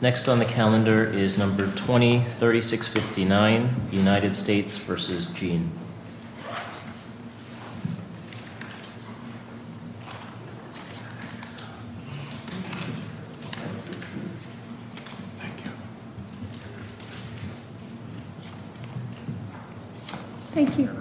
Next on the calendar is number 203659 United States v. Jean Next on the calendar is number 203659 United States v. Jean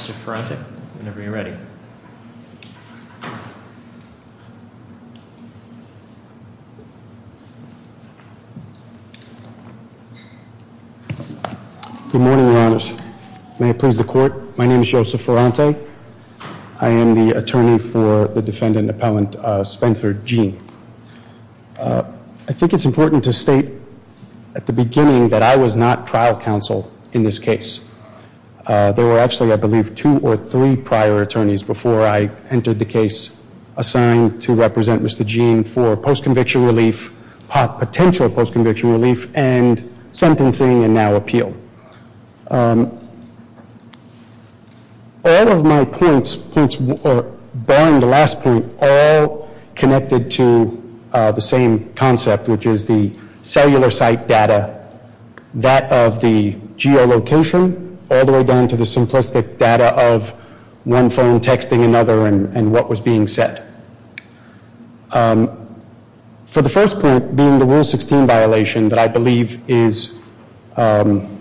Mr. Ferrante, whenever you're ready. Good morning, your honors. May it please the court, my name is Joseph Ferrante. I am the attorney for the defendant appellant Spencer Jean. I think it's important to state at the beginning that I was not trial counsel in this case. There were actually, I believe, two or three prior attorneys before I entered the case assigned to represent Mr. Jean for post-conviction relief, potential post-conviction relief, and sentencing and now appeal. All of my points, barring the last point, are all connected to the same concept, which is the cellular site data, that of the geolocation, all the way down to the simplistic data of one phone texting another and what was being said. For the first point, being the Rule 16 violation that I believe is the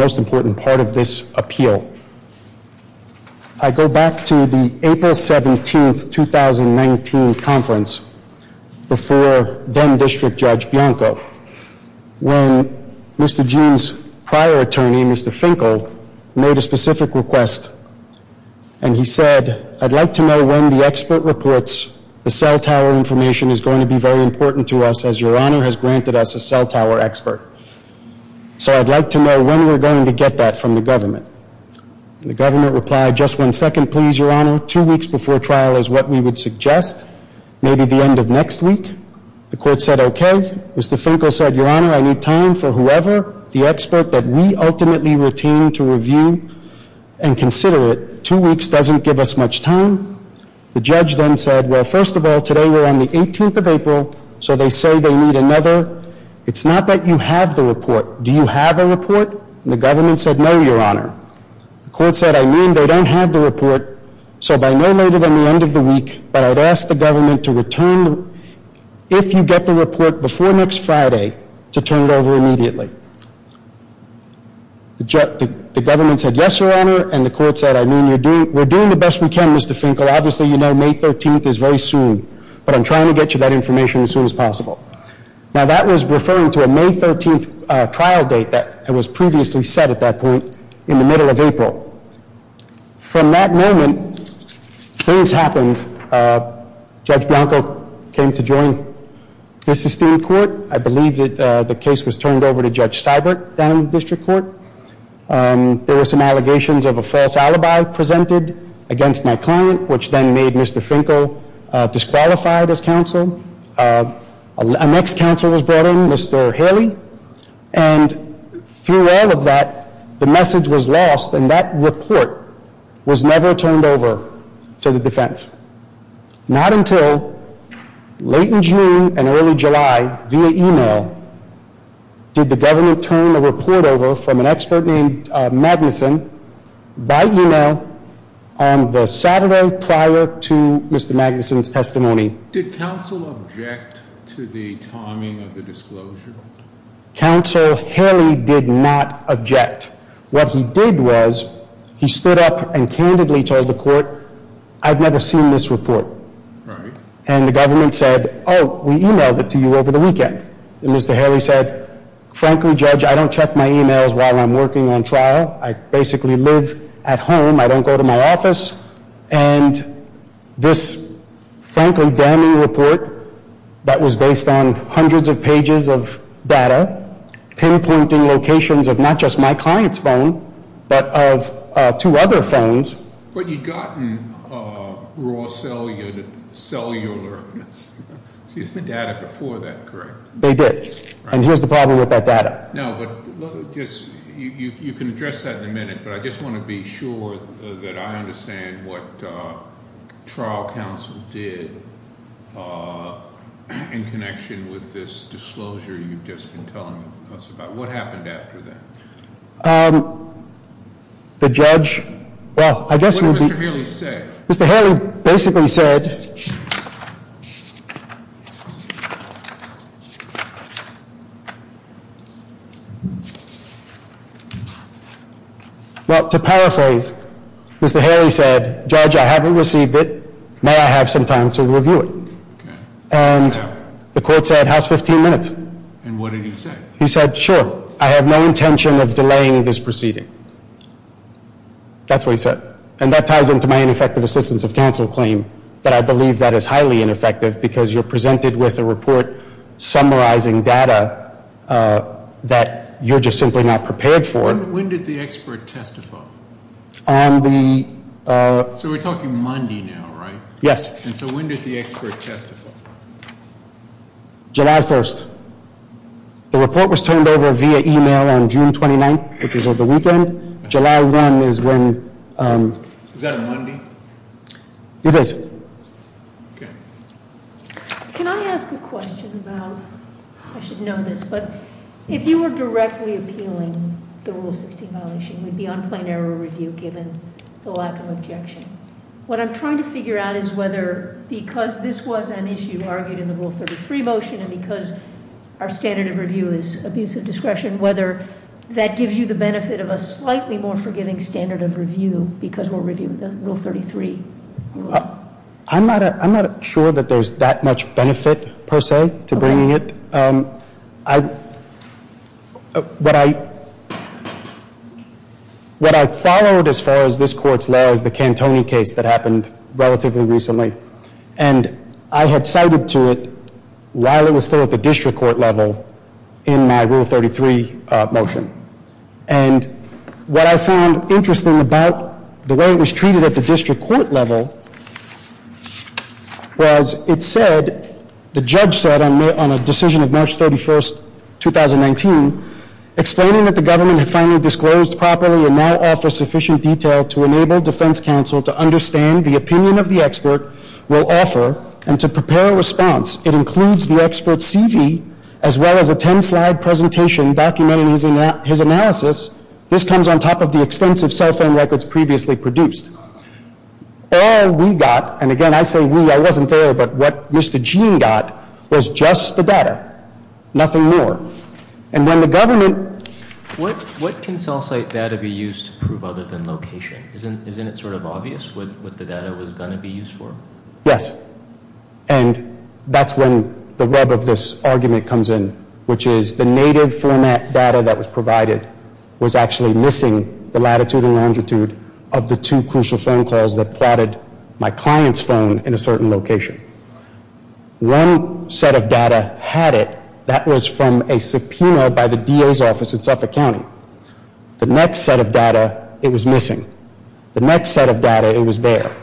most important part of this appeal, I go back to the April 17, 2019 conference before then District Judge Bianco, when Mr. Jean's prior attorney, Mr. Finkel, made a specific request and he said, I'd like to know when the expert reports the cell tower information is going to be very important to us as Your Honor has granted us a cell tower expert. So I'd like to know when we're going to get that from the government. The government replied, just one second please, Your Honor, two weeks before trial is what we would suggest, maybe the end of next week. The court said okay. Mr. Finkel said, Your Honor, I need time for whoever, the expert that we ultimately retain to review and consider it. Two weeks doesn't give us much time. The judge then said, well, first of all, today we're on the 18th of April, so they say they need another. It's not that you have the report. Do you have a report? The government said, no, Your Honor. The court said, I mean, they don't have the report, so by no later than the end of the week, but I'd ask the government to return if you get the report before next Friday to turn it over immediately. The government said, yes, Your Honor. And the court said, I mean, we're doing the best we can, Mr. Finkel. Obviously, you know May 13th is very soon, but I'm trying to get you that information as soon as possible. Now, that was referring to a May 13th trial date that was previously set at that point in the middle of April. From that moment, things happened. Judge Bianco came to join the Sistine Court. I believe that the case was turned over to Judge Seibert down in the district court. There were some allegations of a false alibi presented against my client, which then made Mr. Finkel disqualified as counsel. A next counsel was brought in, Mr. Haley. And through all of that, the message was lost, and that report was never turned over to the defense. Not until late in June and early July, via email, did the government turn the report over from an expert named Magnuson by email on the Saturday prior to Mr. Magnuson's testimony. Did counsel object to the timing of the disclosure? Counsel Haley did not object. What he did was he stood up and candidly told the court, I've never seen this report. And the government said, oh, we emailed it to you over the weekend. And Mr. Haley said, frankly, Judge, I don't check my emails while I'm working on trial. I basically live at home. I don't go to my office. And this frankly damning report that was based on hundreds of pages of data, pinpointing locations of not just my client's phone, but of two other phones. But you'd gotten raw cellular, excuse me, data before that, correct? They did. And here's the problem with that data. No, but you can address that in a minute. But I just want to be sure that I understand what trial counsel did in connection with this disclosure you've just been telling us about. What happened after that? The judge, well, I guess we'll be- What did Mr. Haley say? Mr. Haley basically said, well, to paraphrase, Mr. Haley said, Judge, I haven't received it. May I have some time to review it? And the court said, how's 15 minutes? And what did he say? He said, sure. I have no intention of delaying this proceeding. That's what he said. And that ties into my ineffective assistance of counsel claim, that I believe that is highly ineffective, because you're presented with a report summarizing data that you're just simply not prepared for. When did the expert testify? On the- So we're talking Monday now, right? Yes. And so when did the expert testify? July 1st. July 1 is when- Is that a Monday? It is. Okay. Can I ask a question about, I should know this, but if you were directly appealing the Rule 16 violation, we'd be on plain error review given the lack of objection. What I'm trying to figure out is whether, because this was an issue argued in the Rule 33 motion, and because our standard of review is abuse of discretion, whether that gives you the benefit of a slightly more forgiving standard of review because we're reviewing the Rule 33. I'm not sure that there's that much benefit, per se, to bringing it. Okay. What I followed as far as this court's law is the Cantoni case that happened relatively recently. And I had cited to it while it was still at the district court level in my Rule 33 motion. And what I found interesting about the way it was treated at the district court level was it said, the judge said on a decision of March 31st, 2019, explaining that the government had finally disclosed properly and now offers sufficient detail to enable defense counsel to understand the opinion of the expert will offer and to prepare a response. It includes the expert's CV as well as a 10-slide presentation documenting his analysis. This comes on top of the extensive cell phone records previously produced. All we got, and again I say we, I wasn't there, but what Mr. Gene got was just the data, nothing more. And when the government. What can cell site data be used to prove other than location? Isn't it sort of obvious what the data was going to be used for? Yes. And that's when the web of this argument comes in, which is the native format data that was provided was actually missing the latitude and longitude of the two crucial phone calls that plotted my client's phone in a certain location. One set of data had it. That was from a subpoena by the DA's office in Suffolk County. The next set of data, it was missing. The next set of data, it was there.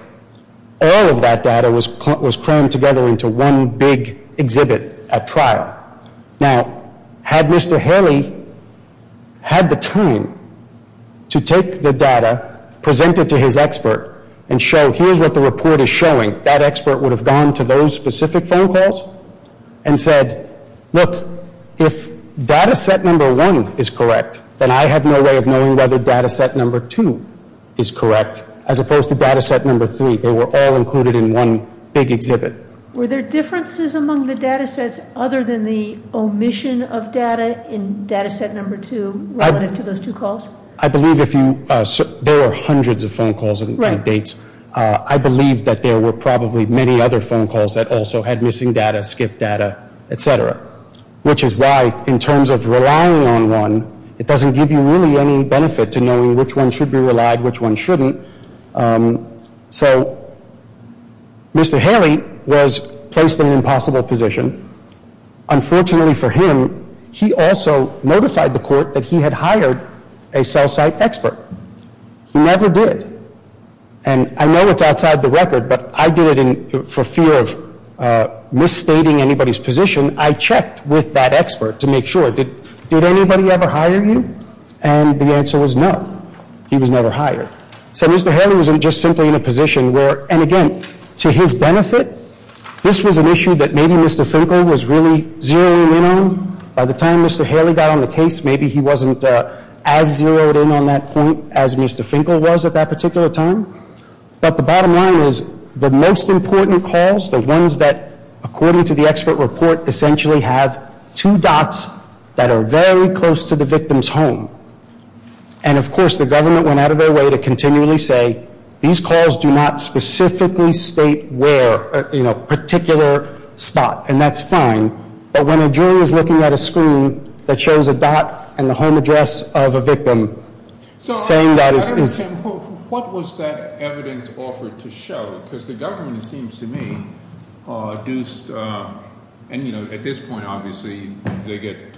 All of that data was crammed together into one big exhibit at trial. Now, had Mr. Haley had the time to take the data, present it to his expert, and show here's what the report is showing, that expert would have gone to those specific phone calls and said, look, if data set number one is correct, then I have no way of knowing whether data set number two is correct, as opposed to data set number three. They were all included in one big exhibit. Were there differences among the data sets other than the omission of data in data set number two relative to those two calls? I believe if you, there were hundreds of phone calls and updates. I believe that there were probably many other phone calls that also had missing data, skipped data, et cetera, which is why in terms of relying on one, it doesn't give you really any benefit to knowing which one should be relied, which one shouldn't. So Mr. Haley was placed in an impossible position. Unfortunately for him, he also notified the court that he had hired a cell site expert. He never did. And I know it's outside the record, but I did it for fear of misstating anybody's position. I checked with that expert to make sure. Did anybody ever hire you? And the answer was no. He was never hired. So Mr. Haley was just simply in a position where, and again, to his benefit, this was an issue that maybe Mr. Finkel was really zeroing in on. By the time Mr. Haley got on the case, maybe he wasn't as zeroed in on that point as Mr. Finkel was at that particular time. But the bottom line is the most important calls, the ones that, according to the expert report, essentially have two dots that are very close to the victim's home. And of course, the government went out of their way to continually say, these calls do not specifically state where, a particular spot, and that's fine. But when a jury is looking at a screen that shows a dot and the home address of a victim, saying that is- So I understand. What was that evidence offered to show? Because the government, it seems to me, do, and at this point, obviously, they get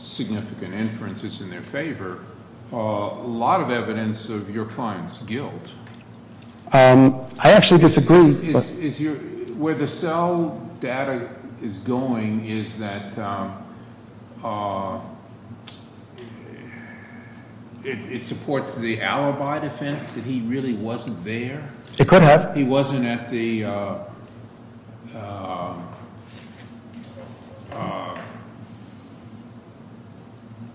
significant inferences in their favor. A lot of evidence of your client's guilt. I actually disagree. Where the cell data is going is that it supports the alibi defense that he really wasn't there? It could have. He wasn't at the-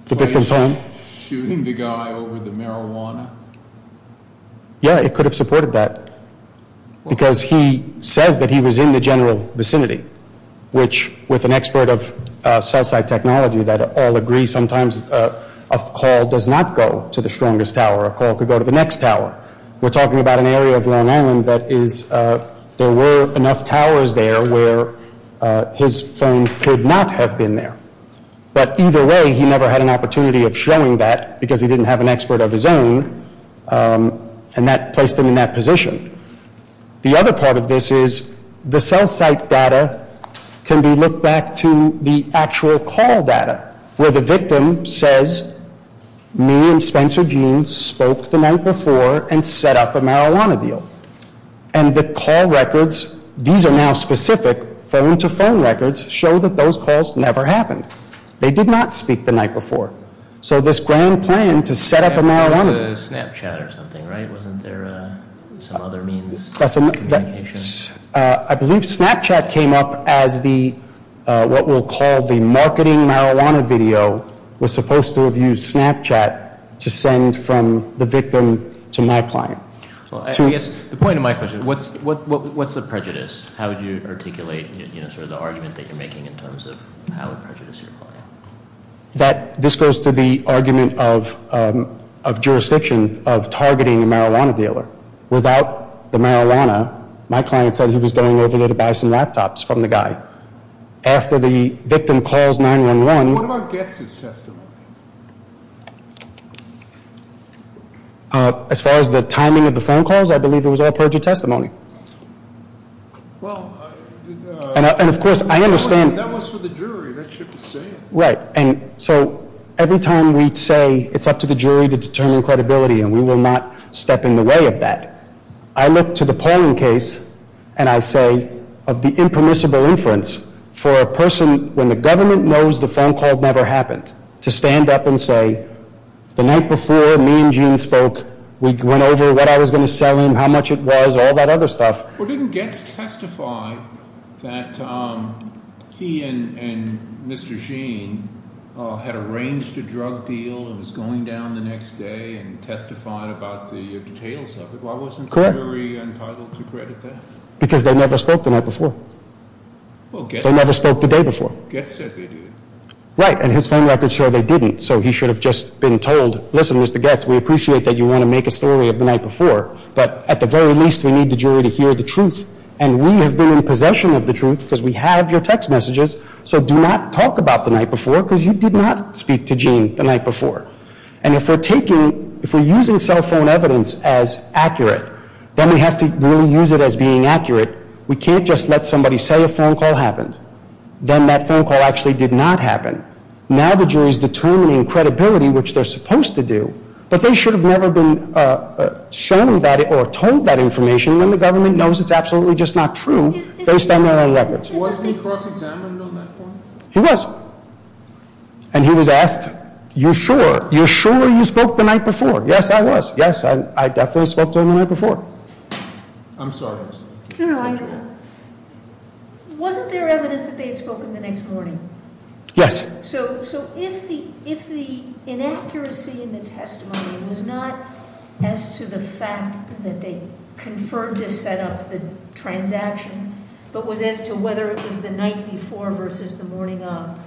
The victim's home? Shooting the guy over the marijuana. Yeah, it could have supported that because he says that he was in the general vicinity, which, with an expert of Southside technology that all agree, sometimes a call does not go to the strongest tower. A call could go to the next tower. We're talking about an area of Long Island that is- There were enough towers there where his phone could not have been there. But either way, he never had an opportunity of showing that because he didn't have an expert of his own, and that placed him in that position. The other part of this is the cell site data can be looked back to the actual call data, where the victim says, me and Spencer Jean spoke the night before and set up a marijuana deal. And the call records, these are now specific phone-to-phone records, show that those calls never happened. They did not speak the night before. So this grand plan to set up a marijuana- That was a Snapchat or something, right? Wasn't there some other means of communication? I believe Snapchat came up as what we'll call the marketing marijuana video was supposed to have used Snapchat to send from the victim to my client. The point of my question, what's the prejudice? How would you articulate sort of the argument that you're making in terms of how to prejudice your client? This goes to the argument of jurisdiction of targeting a marijuana dealer. Without the marijuana, my client said he was going over there to buy some laptops from the guy. After the victim calls 911- What about Getz's testimony? As far as the timing of the phone calls, I believe it was all perjury testimony. And, of course, I understand- That was for the jury. Right. And so every time we say it's up to the jury to determine credibility and we will not step in the way of that, I look to the Pauling case and I say of the impermissible inference for a person when the government knows the phone call never happened to stand up and say the night before me and Gene spoke, we went over what I was going to sell him, how much it was, all that other stuff. Well, didn't Getz testify that he and Mr. Gene had arranged a drug deal and was going down the next day and testified about the details of it? Correct. Why wasn't the jury entitled to credit that? Because they never spoke the night before. Well, Getz- They never spoke the day before. Getz said they did. Right. And his phone records show they didn't. So he should have just been told, listen, Mr. Getz, we appreciate that you want to make a story of the night before, but at the very least we need the jury to hear the truth and we have been in possession of the truth because we have your text messages, so do not talk about the night before because you did not speak to Gene the night before. And if we're taking, if we're using cell phone evidence as accurate, then we have to really use it as being accurate. We can't just let somebody say a phone call happened. Then that phone call actually did not happen. Now the jury is determining credibility, which they're supposed to do, but they should have never been shown that or told that information when the government knows it's absolutely just not true based on their own records. Wasn't he cross-examined on that phone? He was. And he was asked, you sure, you sure you spoke the night before? Yes, I was. Yes, I definitely spoke to him the night before. I'm sorry. No, no, I agree. Wasn't there evidence that they had spoken the next morning? Yes. So if the inaccuracy in the testimony was not as to the fact that they confirmed to set up the transaction, but was as to whether it was the night before versus the morning of,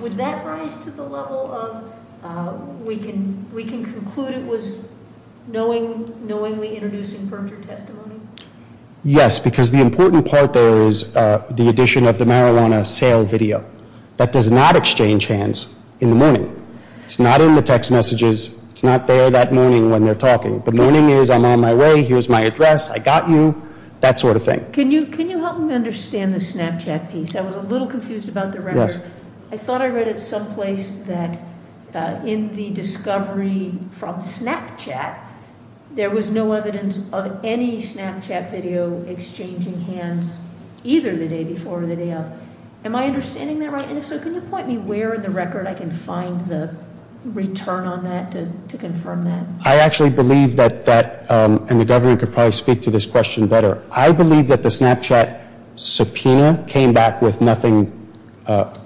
would that rise to the level of we can conclude it was knowingly introducing perjured testimony? Yes, because the important part there is the addition of the marijuana sale video. That does not exchange hands in the morning. It's not in the text messages. It's not there that morning when they're talking. The morning is I'm on my way, here's my address, I got you, that sort of thing. Can you help me understand the Snapchat piece? I was a little confused about the record. Yes. I thought I read it someplace that in the discovery from Snapchat, there was no evidence of any Snapchat video exchanging hands either the day before or the day of. Am I understanding that right? And if so, can you point me where in the record I can find the return on that to confirm that? I actually believe that that, and the government could probably speak to this question better. I believe that the Snapchat subpoena came back with nothing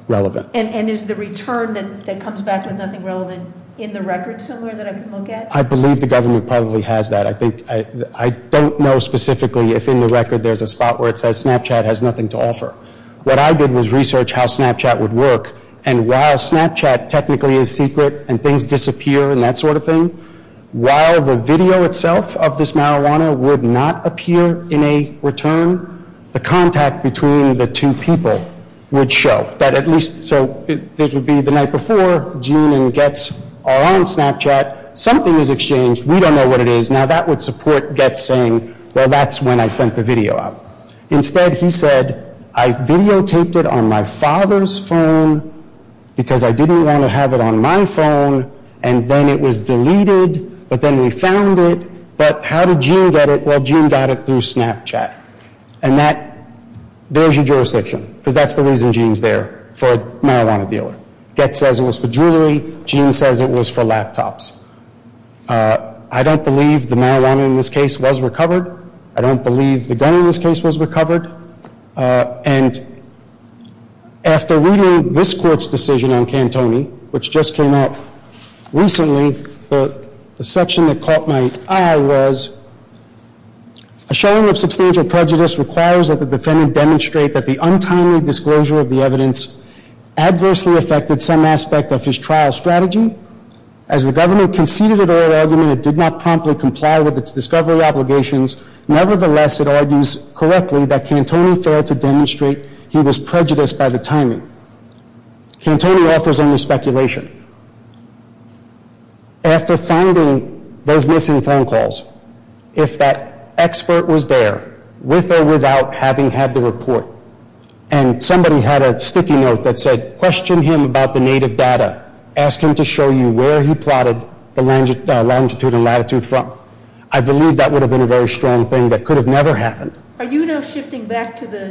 relevant. And is the return that comes back with nothing relevant in the record somewhere that I can look at? I believe the government probably has that. I don't know specifically if in the record there's a spot where it says Snapchat has nothing to offer. What I did was research how Snapchat would work, and while Snapchat technically is secret and things disappear and that sort of thing, while the video itself of this marijuana would not appear in a return, the contact between the two people would show. So it would be the night before, June and Getz are on Snapchat. Something is exchanged. We don't know what it is. Now, that would support Getz saying, well, that's when I sent the video out. Instead, he said, I videotaped it on my father's phone because I didn't want to have it on my phone, and then it was deleted, but then we found it. But how did June get it? Well, June got it through Snapchat. And that bears your jurisdiction because that's the reason June's there, for a marijuana dealer. Getz says it was for jewelry. June says it was for laptops. I don't believe the marijuana in this case was recovered. I don't believe the gun in this case was recovered. And after reading this court's decision on Cantoni, which just came out recently, the section that caught my eye was, a showing of substantial prejudice requires that the defendant demonstrate that the untimely disclosure of the evidence adversely affected some aspect of his trial strategy. As the government conceded an oral argument, it did not promptly comply with its discovery obligations. Nevertheless, it argues correctly that Cantoni failed to demonstrate he was prejudiced by the timing. Cantoni offers only speculation. After finding those missing phone calls, if that expert was there, with or without having had the report, and somebody had a sticky note that said, question him about the native data. Ask him to show you where he plotted the longitude and latitude from. I believe that would have been a very strong thing that could have never happened. Are you now shifting back to the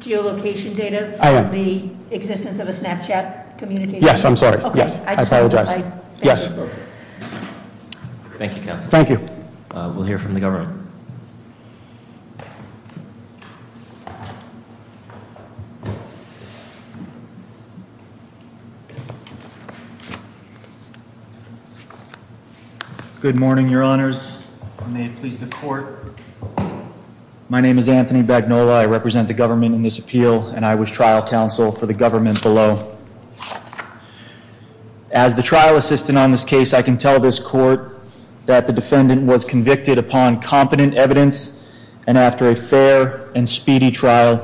geolocation data? I am. The existence of a Snapchat communication? Yes, I'm sorry. I apologize. Thank you. Thank you, Counselor. Thank you. We'll hear from the government. Good morning, Your Honors. May it please the court. My name is Anthony Bagnola. I represent the government in this appeal, and I was trial counsel for the government below. As the trial assistant on this case, I can tell this court that the defendant was convicted upon competent evidence, and after a fair and speedy trial,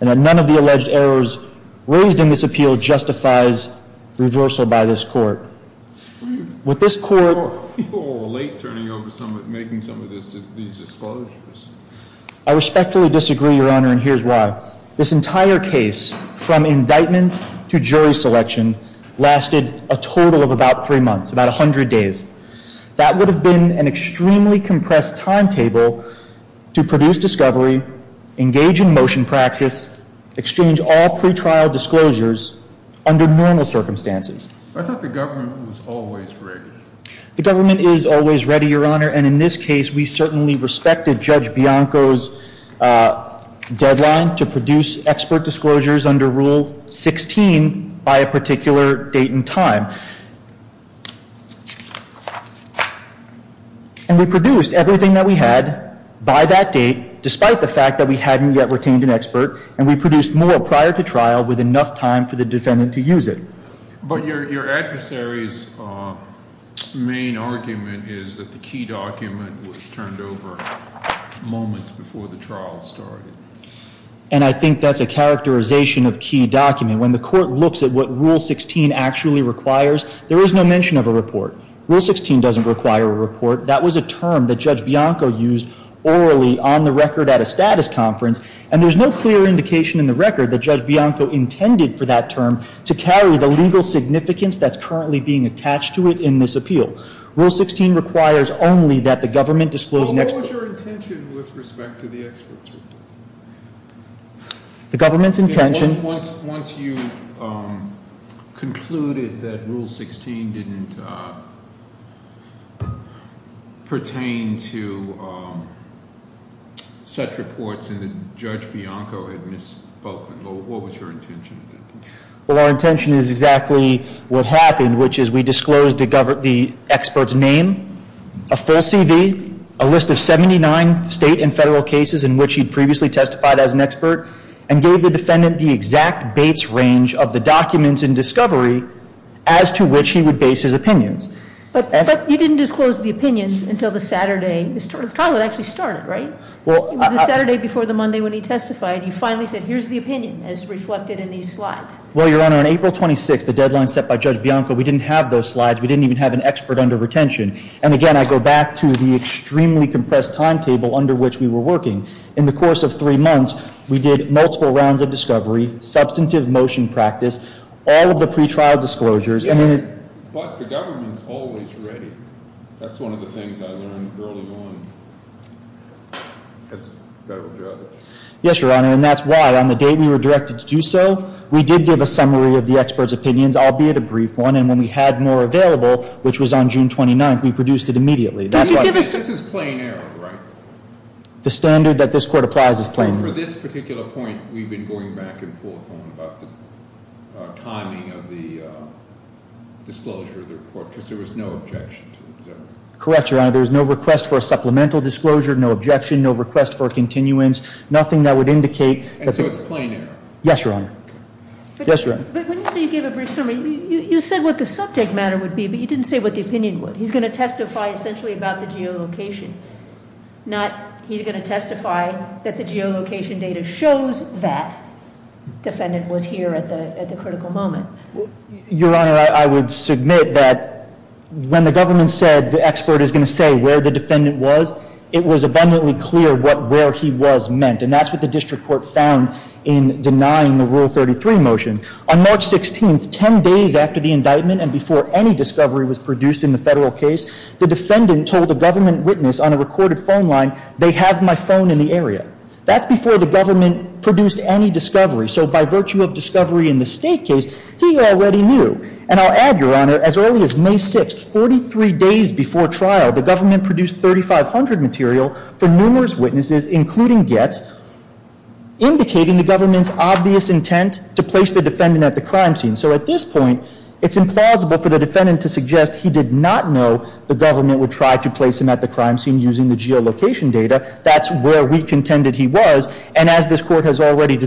and that none of the alleged errors raised in this appeal justifies reversal by this court. Were you late turning over, making some of these disclosures? I respectfully disagree, Your Honor, and here's why. This entire case, from indictment to jury selection, lasted a total of about three months, about 100 days. That would have been an extremely compressed timetable to produce discovery, engage in motion practice, exchange all pretrial disclosures under normal circumstances. I thought the government was always ready. The government is always ready, Your Honor, and in this case, we certainly respected Judge Bianco's deadline to produce expert disclosures under Rule 16 by a particular date and time. And we produced everything that we had by that date, despite the fact that we hadn't yet retained an expert, and we produced more prior to trial with enough time for the defendant to use it. But your adversary's main argument is that the key document was turned over moments before the trial started. And I think that's a characterization of key document. When the court looks at what Rule 16 actually requires, there is no mention of a report. Rule 16 doesn't require a report. That was a term that Judge Bianco used orally on the record at a status conference, and there's no clear indication in the record that Judge Bianco intended for that term to carry the legal significance that's currently being attached to it in this appeal. Rule 16 requires only that the government disclose an expert. What was your intention with respect to the expert's report? The government's intention- Once you concluded that Rule 16 didn't pertain to such reports and that Judge Bianco had misspoken, what was your intention? Well, our intention is exactly what happened, which is we disclosed the expert's name, a full CV, a list of 79 state and federal cases in which he'd previously testified as an expert, and gave the defendant the exact base range of the documents in discovery as to which he would base his opinions. But you didn't disclose the opinions until the Saturday. The trial had actually started, right? It was the Saturday before the Monday when he testified. You finally said, here's the opinion as reflected in these slides. Well, Your Honor, on April 26th, the deadline set by Judge Bianco, we didn't have those slides. We didn't even have an expert under retention. And, again, I go back to the extremely compressed timetable under which we were working. In the course of three months, we did multiple rounds of discovery, substantive motion practice, all of the pretrial disclosures. Yes, but the government's always ready. That's one of the things I learned early on as a federal judge. Yes, Your Honor, and that's why on the date we were directed to do so, we did give a summary of the expert's opinions, albeit a brief one. And when we had more available, which was on June 29th, we produced it immediately. This is plain error, right? The standard that this Court applies is plain error. For this particular point, we've been going back and forth on about the timing of the disclosure of the report, because there was no objection to it. Correct, Your Honor. There was no request for a supplemental disclosure, no objection, no request for a continuance, nothing that would indicate. And so it's plain error? Yes, Your Honor. Yes, Your Honor. But when you say you gave a brief summary, you said what the subject matter would be, but you didn't say what the opinion would. He's going to testify essentially about the geolocation, not he's going to testify that the geolocation data shows that defendant was here at the critical moment. Your Honor, I would submit that when the government said the expert is going to say where the defendant was, it was abundantly clear what where he was meant. And that's what the district court found in denying the Rule 33 motion. On March 16th, 10 days after the indictment and before any discovery was produced in the federal case, the defendant told a government witness on a recorded phone line, they have my phone in the area. That's before the government produced any discovery. So by virtue of discovery in the state case, he already knew. And I'll add, Your Honor, as early as May 6th, 43 days before trial, the government produced 3,500 material from numerous witnesses, including Getz, indicating the government's obvious intent to place the defendant at the crime scene. So at this point, it's implausible for the defendant to suggest he did not know the government would try to place him at the crime scene using the geolocation data. That's where we contended he was. And as this court has already,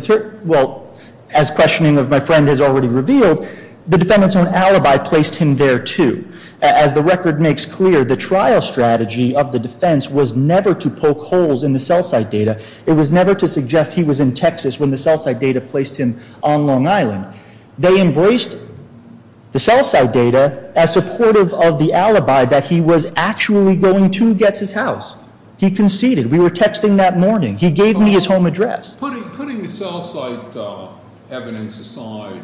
well, as questioning of my friend has already revealed, the defendant's own alibi placed him there, too. As the record makes clear, the trial strategy of the defense was never to poke holes in the cell site data. It was never to suggest he was in Texas when the cell site data placed him on Long Island. They embraced the cell site data as supportive of the alibi that he was actually going to Getz's house. He conceded. We were texting that morning. He gave me his home address. Putting the cell site evidence aside,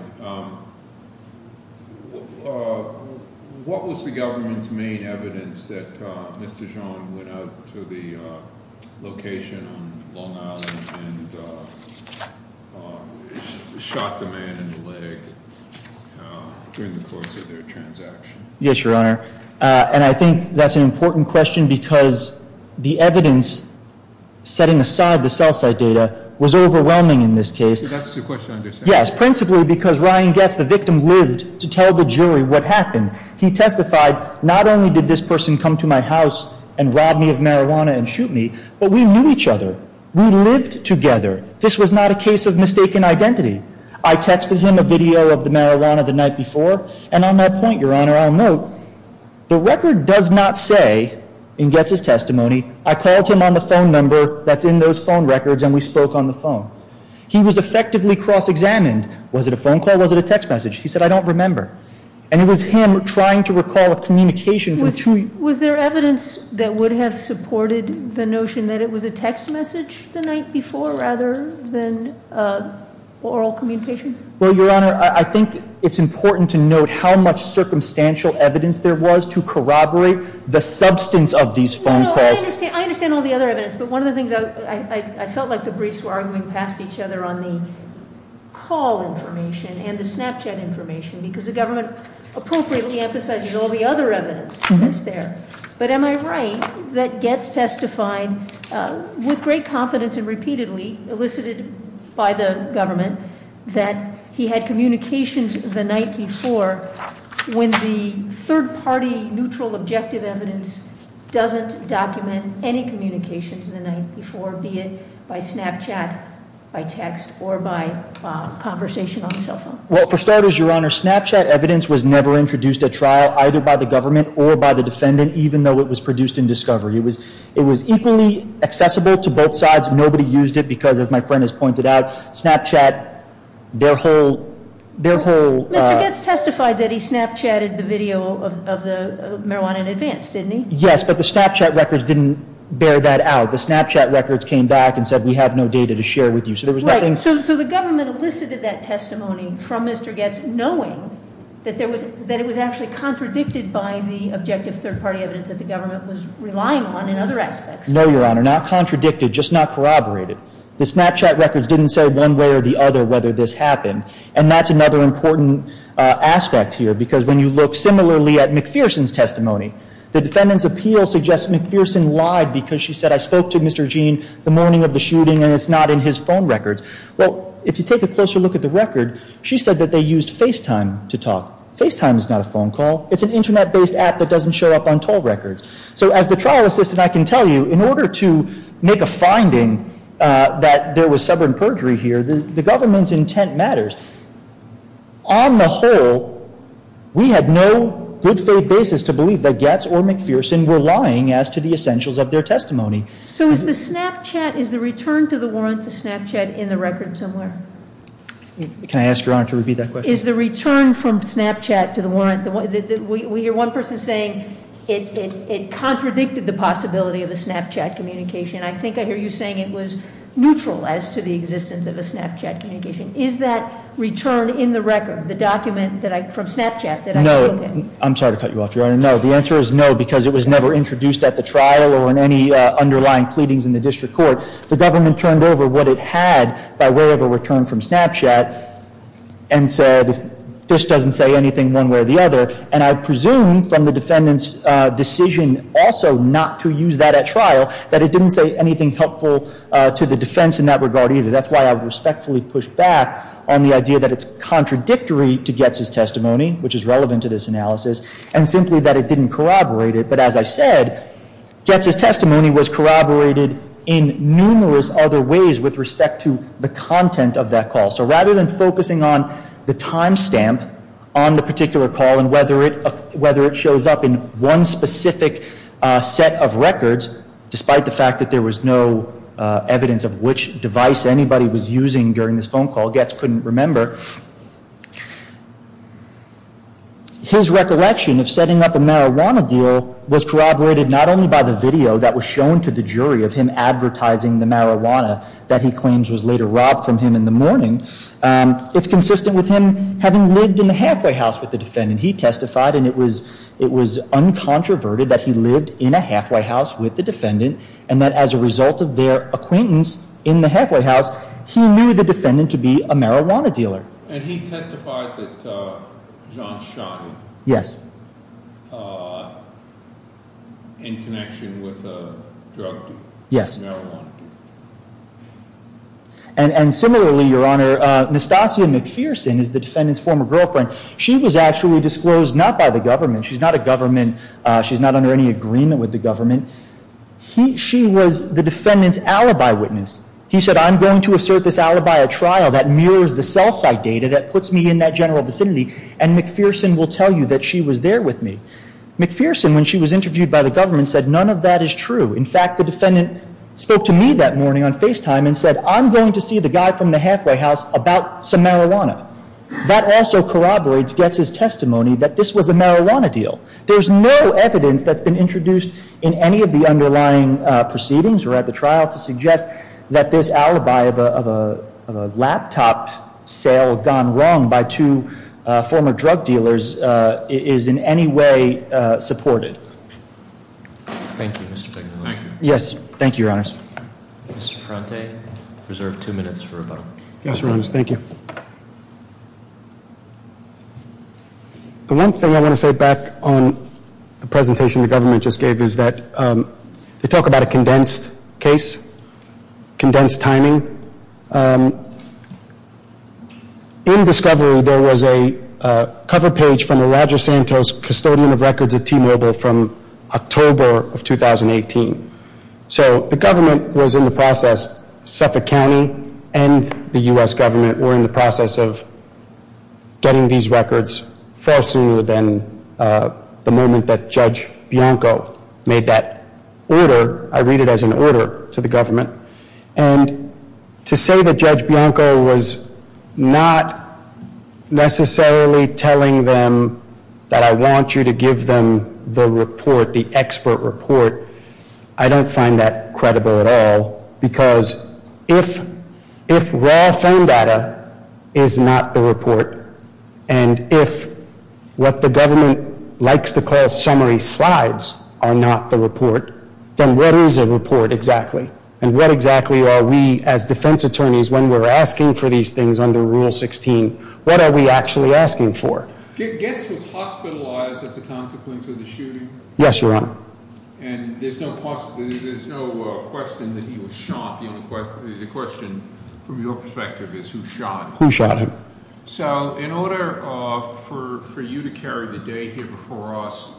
what was the government's main evidence that Mr. Jean went out to the location on Long Island and shot the man in the leg during the course of their transaction? Yes, Your Honor. And I think that's an important question because the evidence setting aside the cell site data was overwhelming in this case. That's your question, I understand. Yes, principally because Ryan Getz, the victim, lived to tell the jury what happened. He testified, not only did this person come to my house and rob me of marijuana and shoot me, but we knew each other. We lived together. This was not a case of mistaken identity. I texted him a video of the marijuana the night before. And on that point, Your Honor, I'll note the record does not say in Getz's testimony, I called him on the phone number that's in those phone records and we spoke on the phone. He was effectively cross-examined. Was it a phone call? Was it a text message? He said, I don't remember. And it was him trying to recall a communication between Was there evidence that would have supported the notion that it was a text message the night before rather than oral communication? Well, Your Honor, I think it's important to note how much circumstantial evidence there was to corroborate the substance of these phone calls. No, no, I understand all the other evidence. But one of the things I felt like the briefs were arguing past each other on the call information and the Snapchat information because the government appropriately emphasizes all the other evidence that's there. But am I right that Getz testified with great confidence and repeatedly elicited by the government that he had communications the night before when the third party neutral objective evidence doesn't document any communications the night before, be it by Snapchat, by text, or by conversation on the cell phone? Well, for starters, Your Honor, Snapchat evidence was never introduced at trial either by the government or by the defendant, even though it was produced in discovery. It was equally accessible to both sides. Nobody used it because, as my friend has pointed out, Snapchat, their whole Mr. Getz testified that he Snapchatted the video of the marijuana in advance, didn't he? Yes, but the Snapchat records didn't bear that out. The Snapchat records came back and said, we have no data to share with you. Right, so the government elicited that testimony from Mr. Getz knowing that it was actually contradicted by the objective third party evidence that the government was relying on in other aspects. No, Your Honor, not contradicted, just not corroborated. The Snapchat records didn't say one way or the other whether this happened, and that's another important aspect here because when you look similarly at McPherson's testimony, the defendant's appeal suggests McPherson lied because she said, I spoke to Mr. Gene the morning of the shooting and it's not in his phone records. Well, if you take a closer look at the record, she said that they used FaceTime to talk. FaceTime is not a phone call. It's an Internet-based app that doesn't show up on toll records. So as the trial assistant, I can tell you, in order to make a finding that there was stubborn perjury here, the government's intent matters. On the whole, we had no good faith basis to believe that Getz or McPherson were lying as to the essentials of their testimony. So is the Snapchat, is the return to the warrant to Snapchat in the record somewhere? Can I ask Your Honor to repeat that question? Is the return from Snapchat to the warrant, we hear one person saying it contradicted the possibility of a Snapchat communication. I think I hear you saying it was neutral as to the existence of a Snapchat communication. Is that return in the record, the document from Snapchat that I spoke in? No, I'm sorry to cut you off, Your Honor. No, the answer is no, because it was never introduced at the trial or in any underlying pleadings in the district court. The government turned over what it had by way of a return from Snapchat and said, this doesn't say anything one way or the other. And I presume from the defendant's decision also not to use that at trial, that it didn't say anything helpful to the defense in that regard either. That's why I would respectfully push back on the idea that it's contradictory to that it didn't corroborate it. But as I said, Goetz's testimony was corroborated in numerous other ways with respect to the content of that call. So rather than focusing on the timestamp on the particular call and whether it shows up in one specific set of records, despite the fact that there was no evidence of which device anybody was using during this phone call, Goetz couldn't remember. His recollection of setting up a marijuana deal was corroborated not only by the video that was shown to the jury of him advertising the marijuana that he claims was later robbed from him in the morning. It's consistent with him having lived in the halfway house with the defendant. He testified, and it was uncontroverted, that he lived in a halfway house with the defendant and that as a result of their acquaintance in the halfway house, he knew the defendant to be a marijuana dealer. And he testified that John shot him. Yes. In connection with a drug deal. Yes. Marijuana deal. And similarly, Your Honor, Nastasia McPherson is the defendant's former girlfriend. She was actually disclosed not by the government. She's not a government. She's not under any agreement with the government. She was the defendant's alibi witness. He said, I'm going to assert this alibi at trial that mirrors the cell site data that puts me in that general vicinity and McPherson will tell you that she was there with me. McPherson, when she was interviewed by the government, said none of that is true. In fact, the defendant spoke to me that morning on FaceTime and said, I'm going to see the guy from the halfway house about some marijuana. That also corroborates Goetz's testimony that this was a marijuana deal. There's no evidence that's been introduced in any of the underlying proceedings or at the trial to suggest that this alibi of a laptop sale gone wrong by two former drug dealers is in any way supported. Thank you, Mr. Tegnelli. Thank you. Yes. Thank you, Your Honors. Mr. Ferrante, you're reserved two minutes for rebuttal. Yes, Your Honors. Thank you. The one thing I want to say back on the presentation the government just gave is that they talk about a condensed case, condensed timing. In discovery, there was a cover page from a Roger Santos custodian of records at T-Mobile from October of 2018. So the government was in the process, Suffolk County and the U.S. government, were in the process of getting these records far sooner than the moment that Judge Bianco made that order. I read it as an order to the government. And to say that Judge Bianco was not necessarily telling them that I want you to give them the report, the expert report, I don't find that credible at all because if raw phone data is not the report and if what the government likes to call summary slides are not the report, then what is a report exactly? And what exactly are we, as defense attorneys, when we're asking for these things under Rule 16, what are we actually asking for? Getz was hospitalized as a consequence of the shooting. Yes, Your Honor. And there's no question that he was shot. The question, from your perspective, is who shot him. Who shot him. So in order for you to carry the day here before us,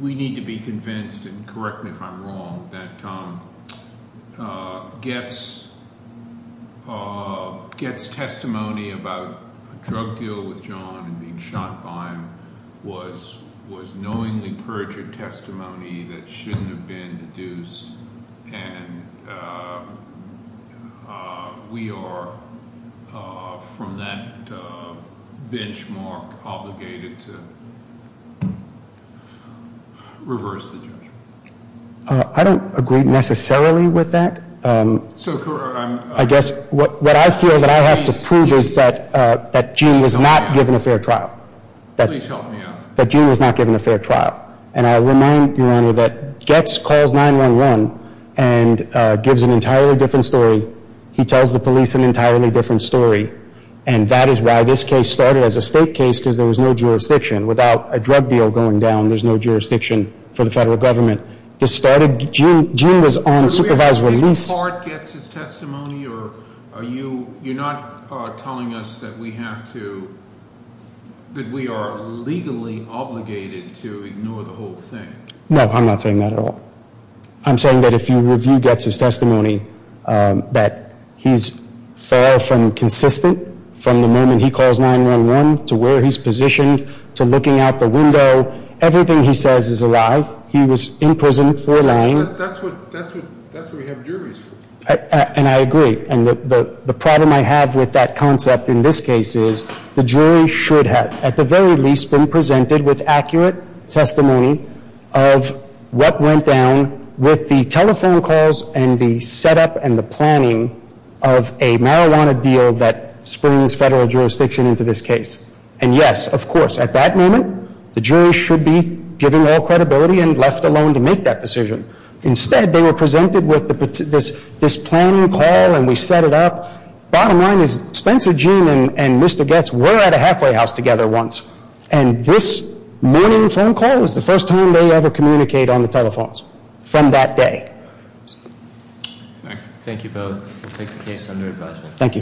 we need to be convinced, and correct me if I'm wrong, that Getz' testimony about a drug deal with John and being shot by him was knowingly perjured testimony that shouldn't have been deduced. And we are, from that benchmark, obligated to reverse the judgment. I don't agree necessarily with that. I guess what I feel that I have to prove is that Gene was not given a fair trial. Please help me out. That Gene was not given a fair trial. And I'll remind you, Your Honor, that Getz calls 911 and gives an entirely different story. He tells the police an entirely different story. And that is why this case started as a state case because there was no jurisdiction. Without a drug deal going down, there's no jurisdiction for the federal government. Gene was on supervised release. Are you not telling us that we have to, that we are legally obligated to ignore the whole thing? No, I'm not saying that at all. I'm saying that if you review Getz' testimony, that he's far from consistent from the moment he calls 911 to where he's positioned to looking out the window. Everything he says is a lie. He was in prison for lying. That's what we have juries for. And I agree. And the problem I have with that concept in this case is the jury should have, at the very least, been presented with accurate testimony of what went down with the telephone calls and the setup and the planning of a marijuana deal that springs federal jurisdiction into this case. And yes, of course, at that moment, the jury should be given all credibility and left alone to make that decision. Instead, they were presented with this planning call and we set it up. Bottom line is Spencer Gene and Mr. Getz were at a halfway house together once. And this morning phone call is the first time they ever communicate on the telephones from that day. Thank you both. We'll take the case under advisory. Thank you.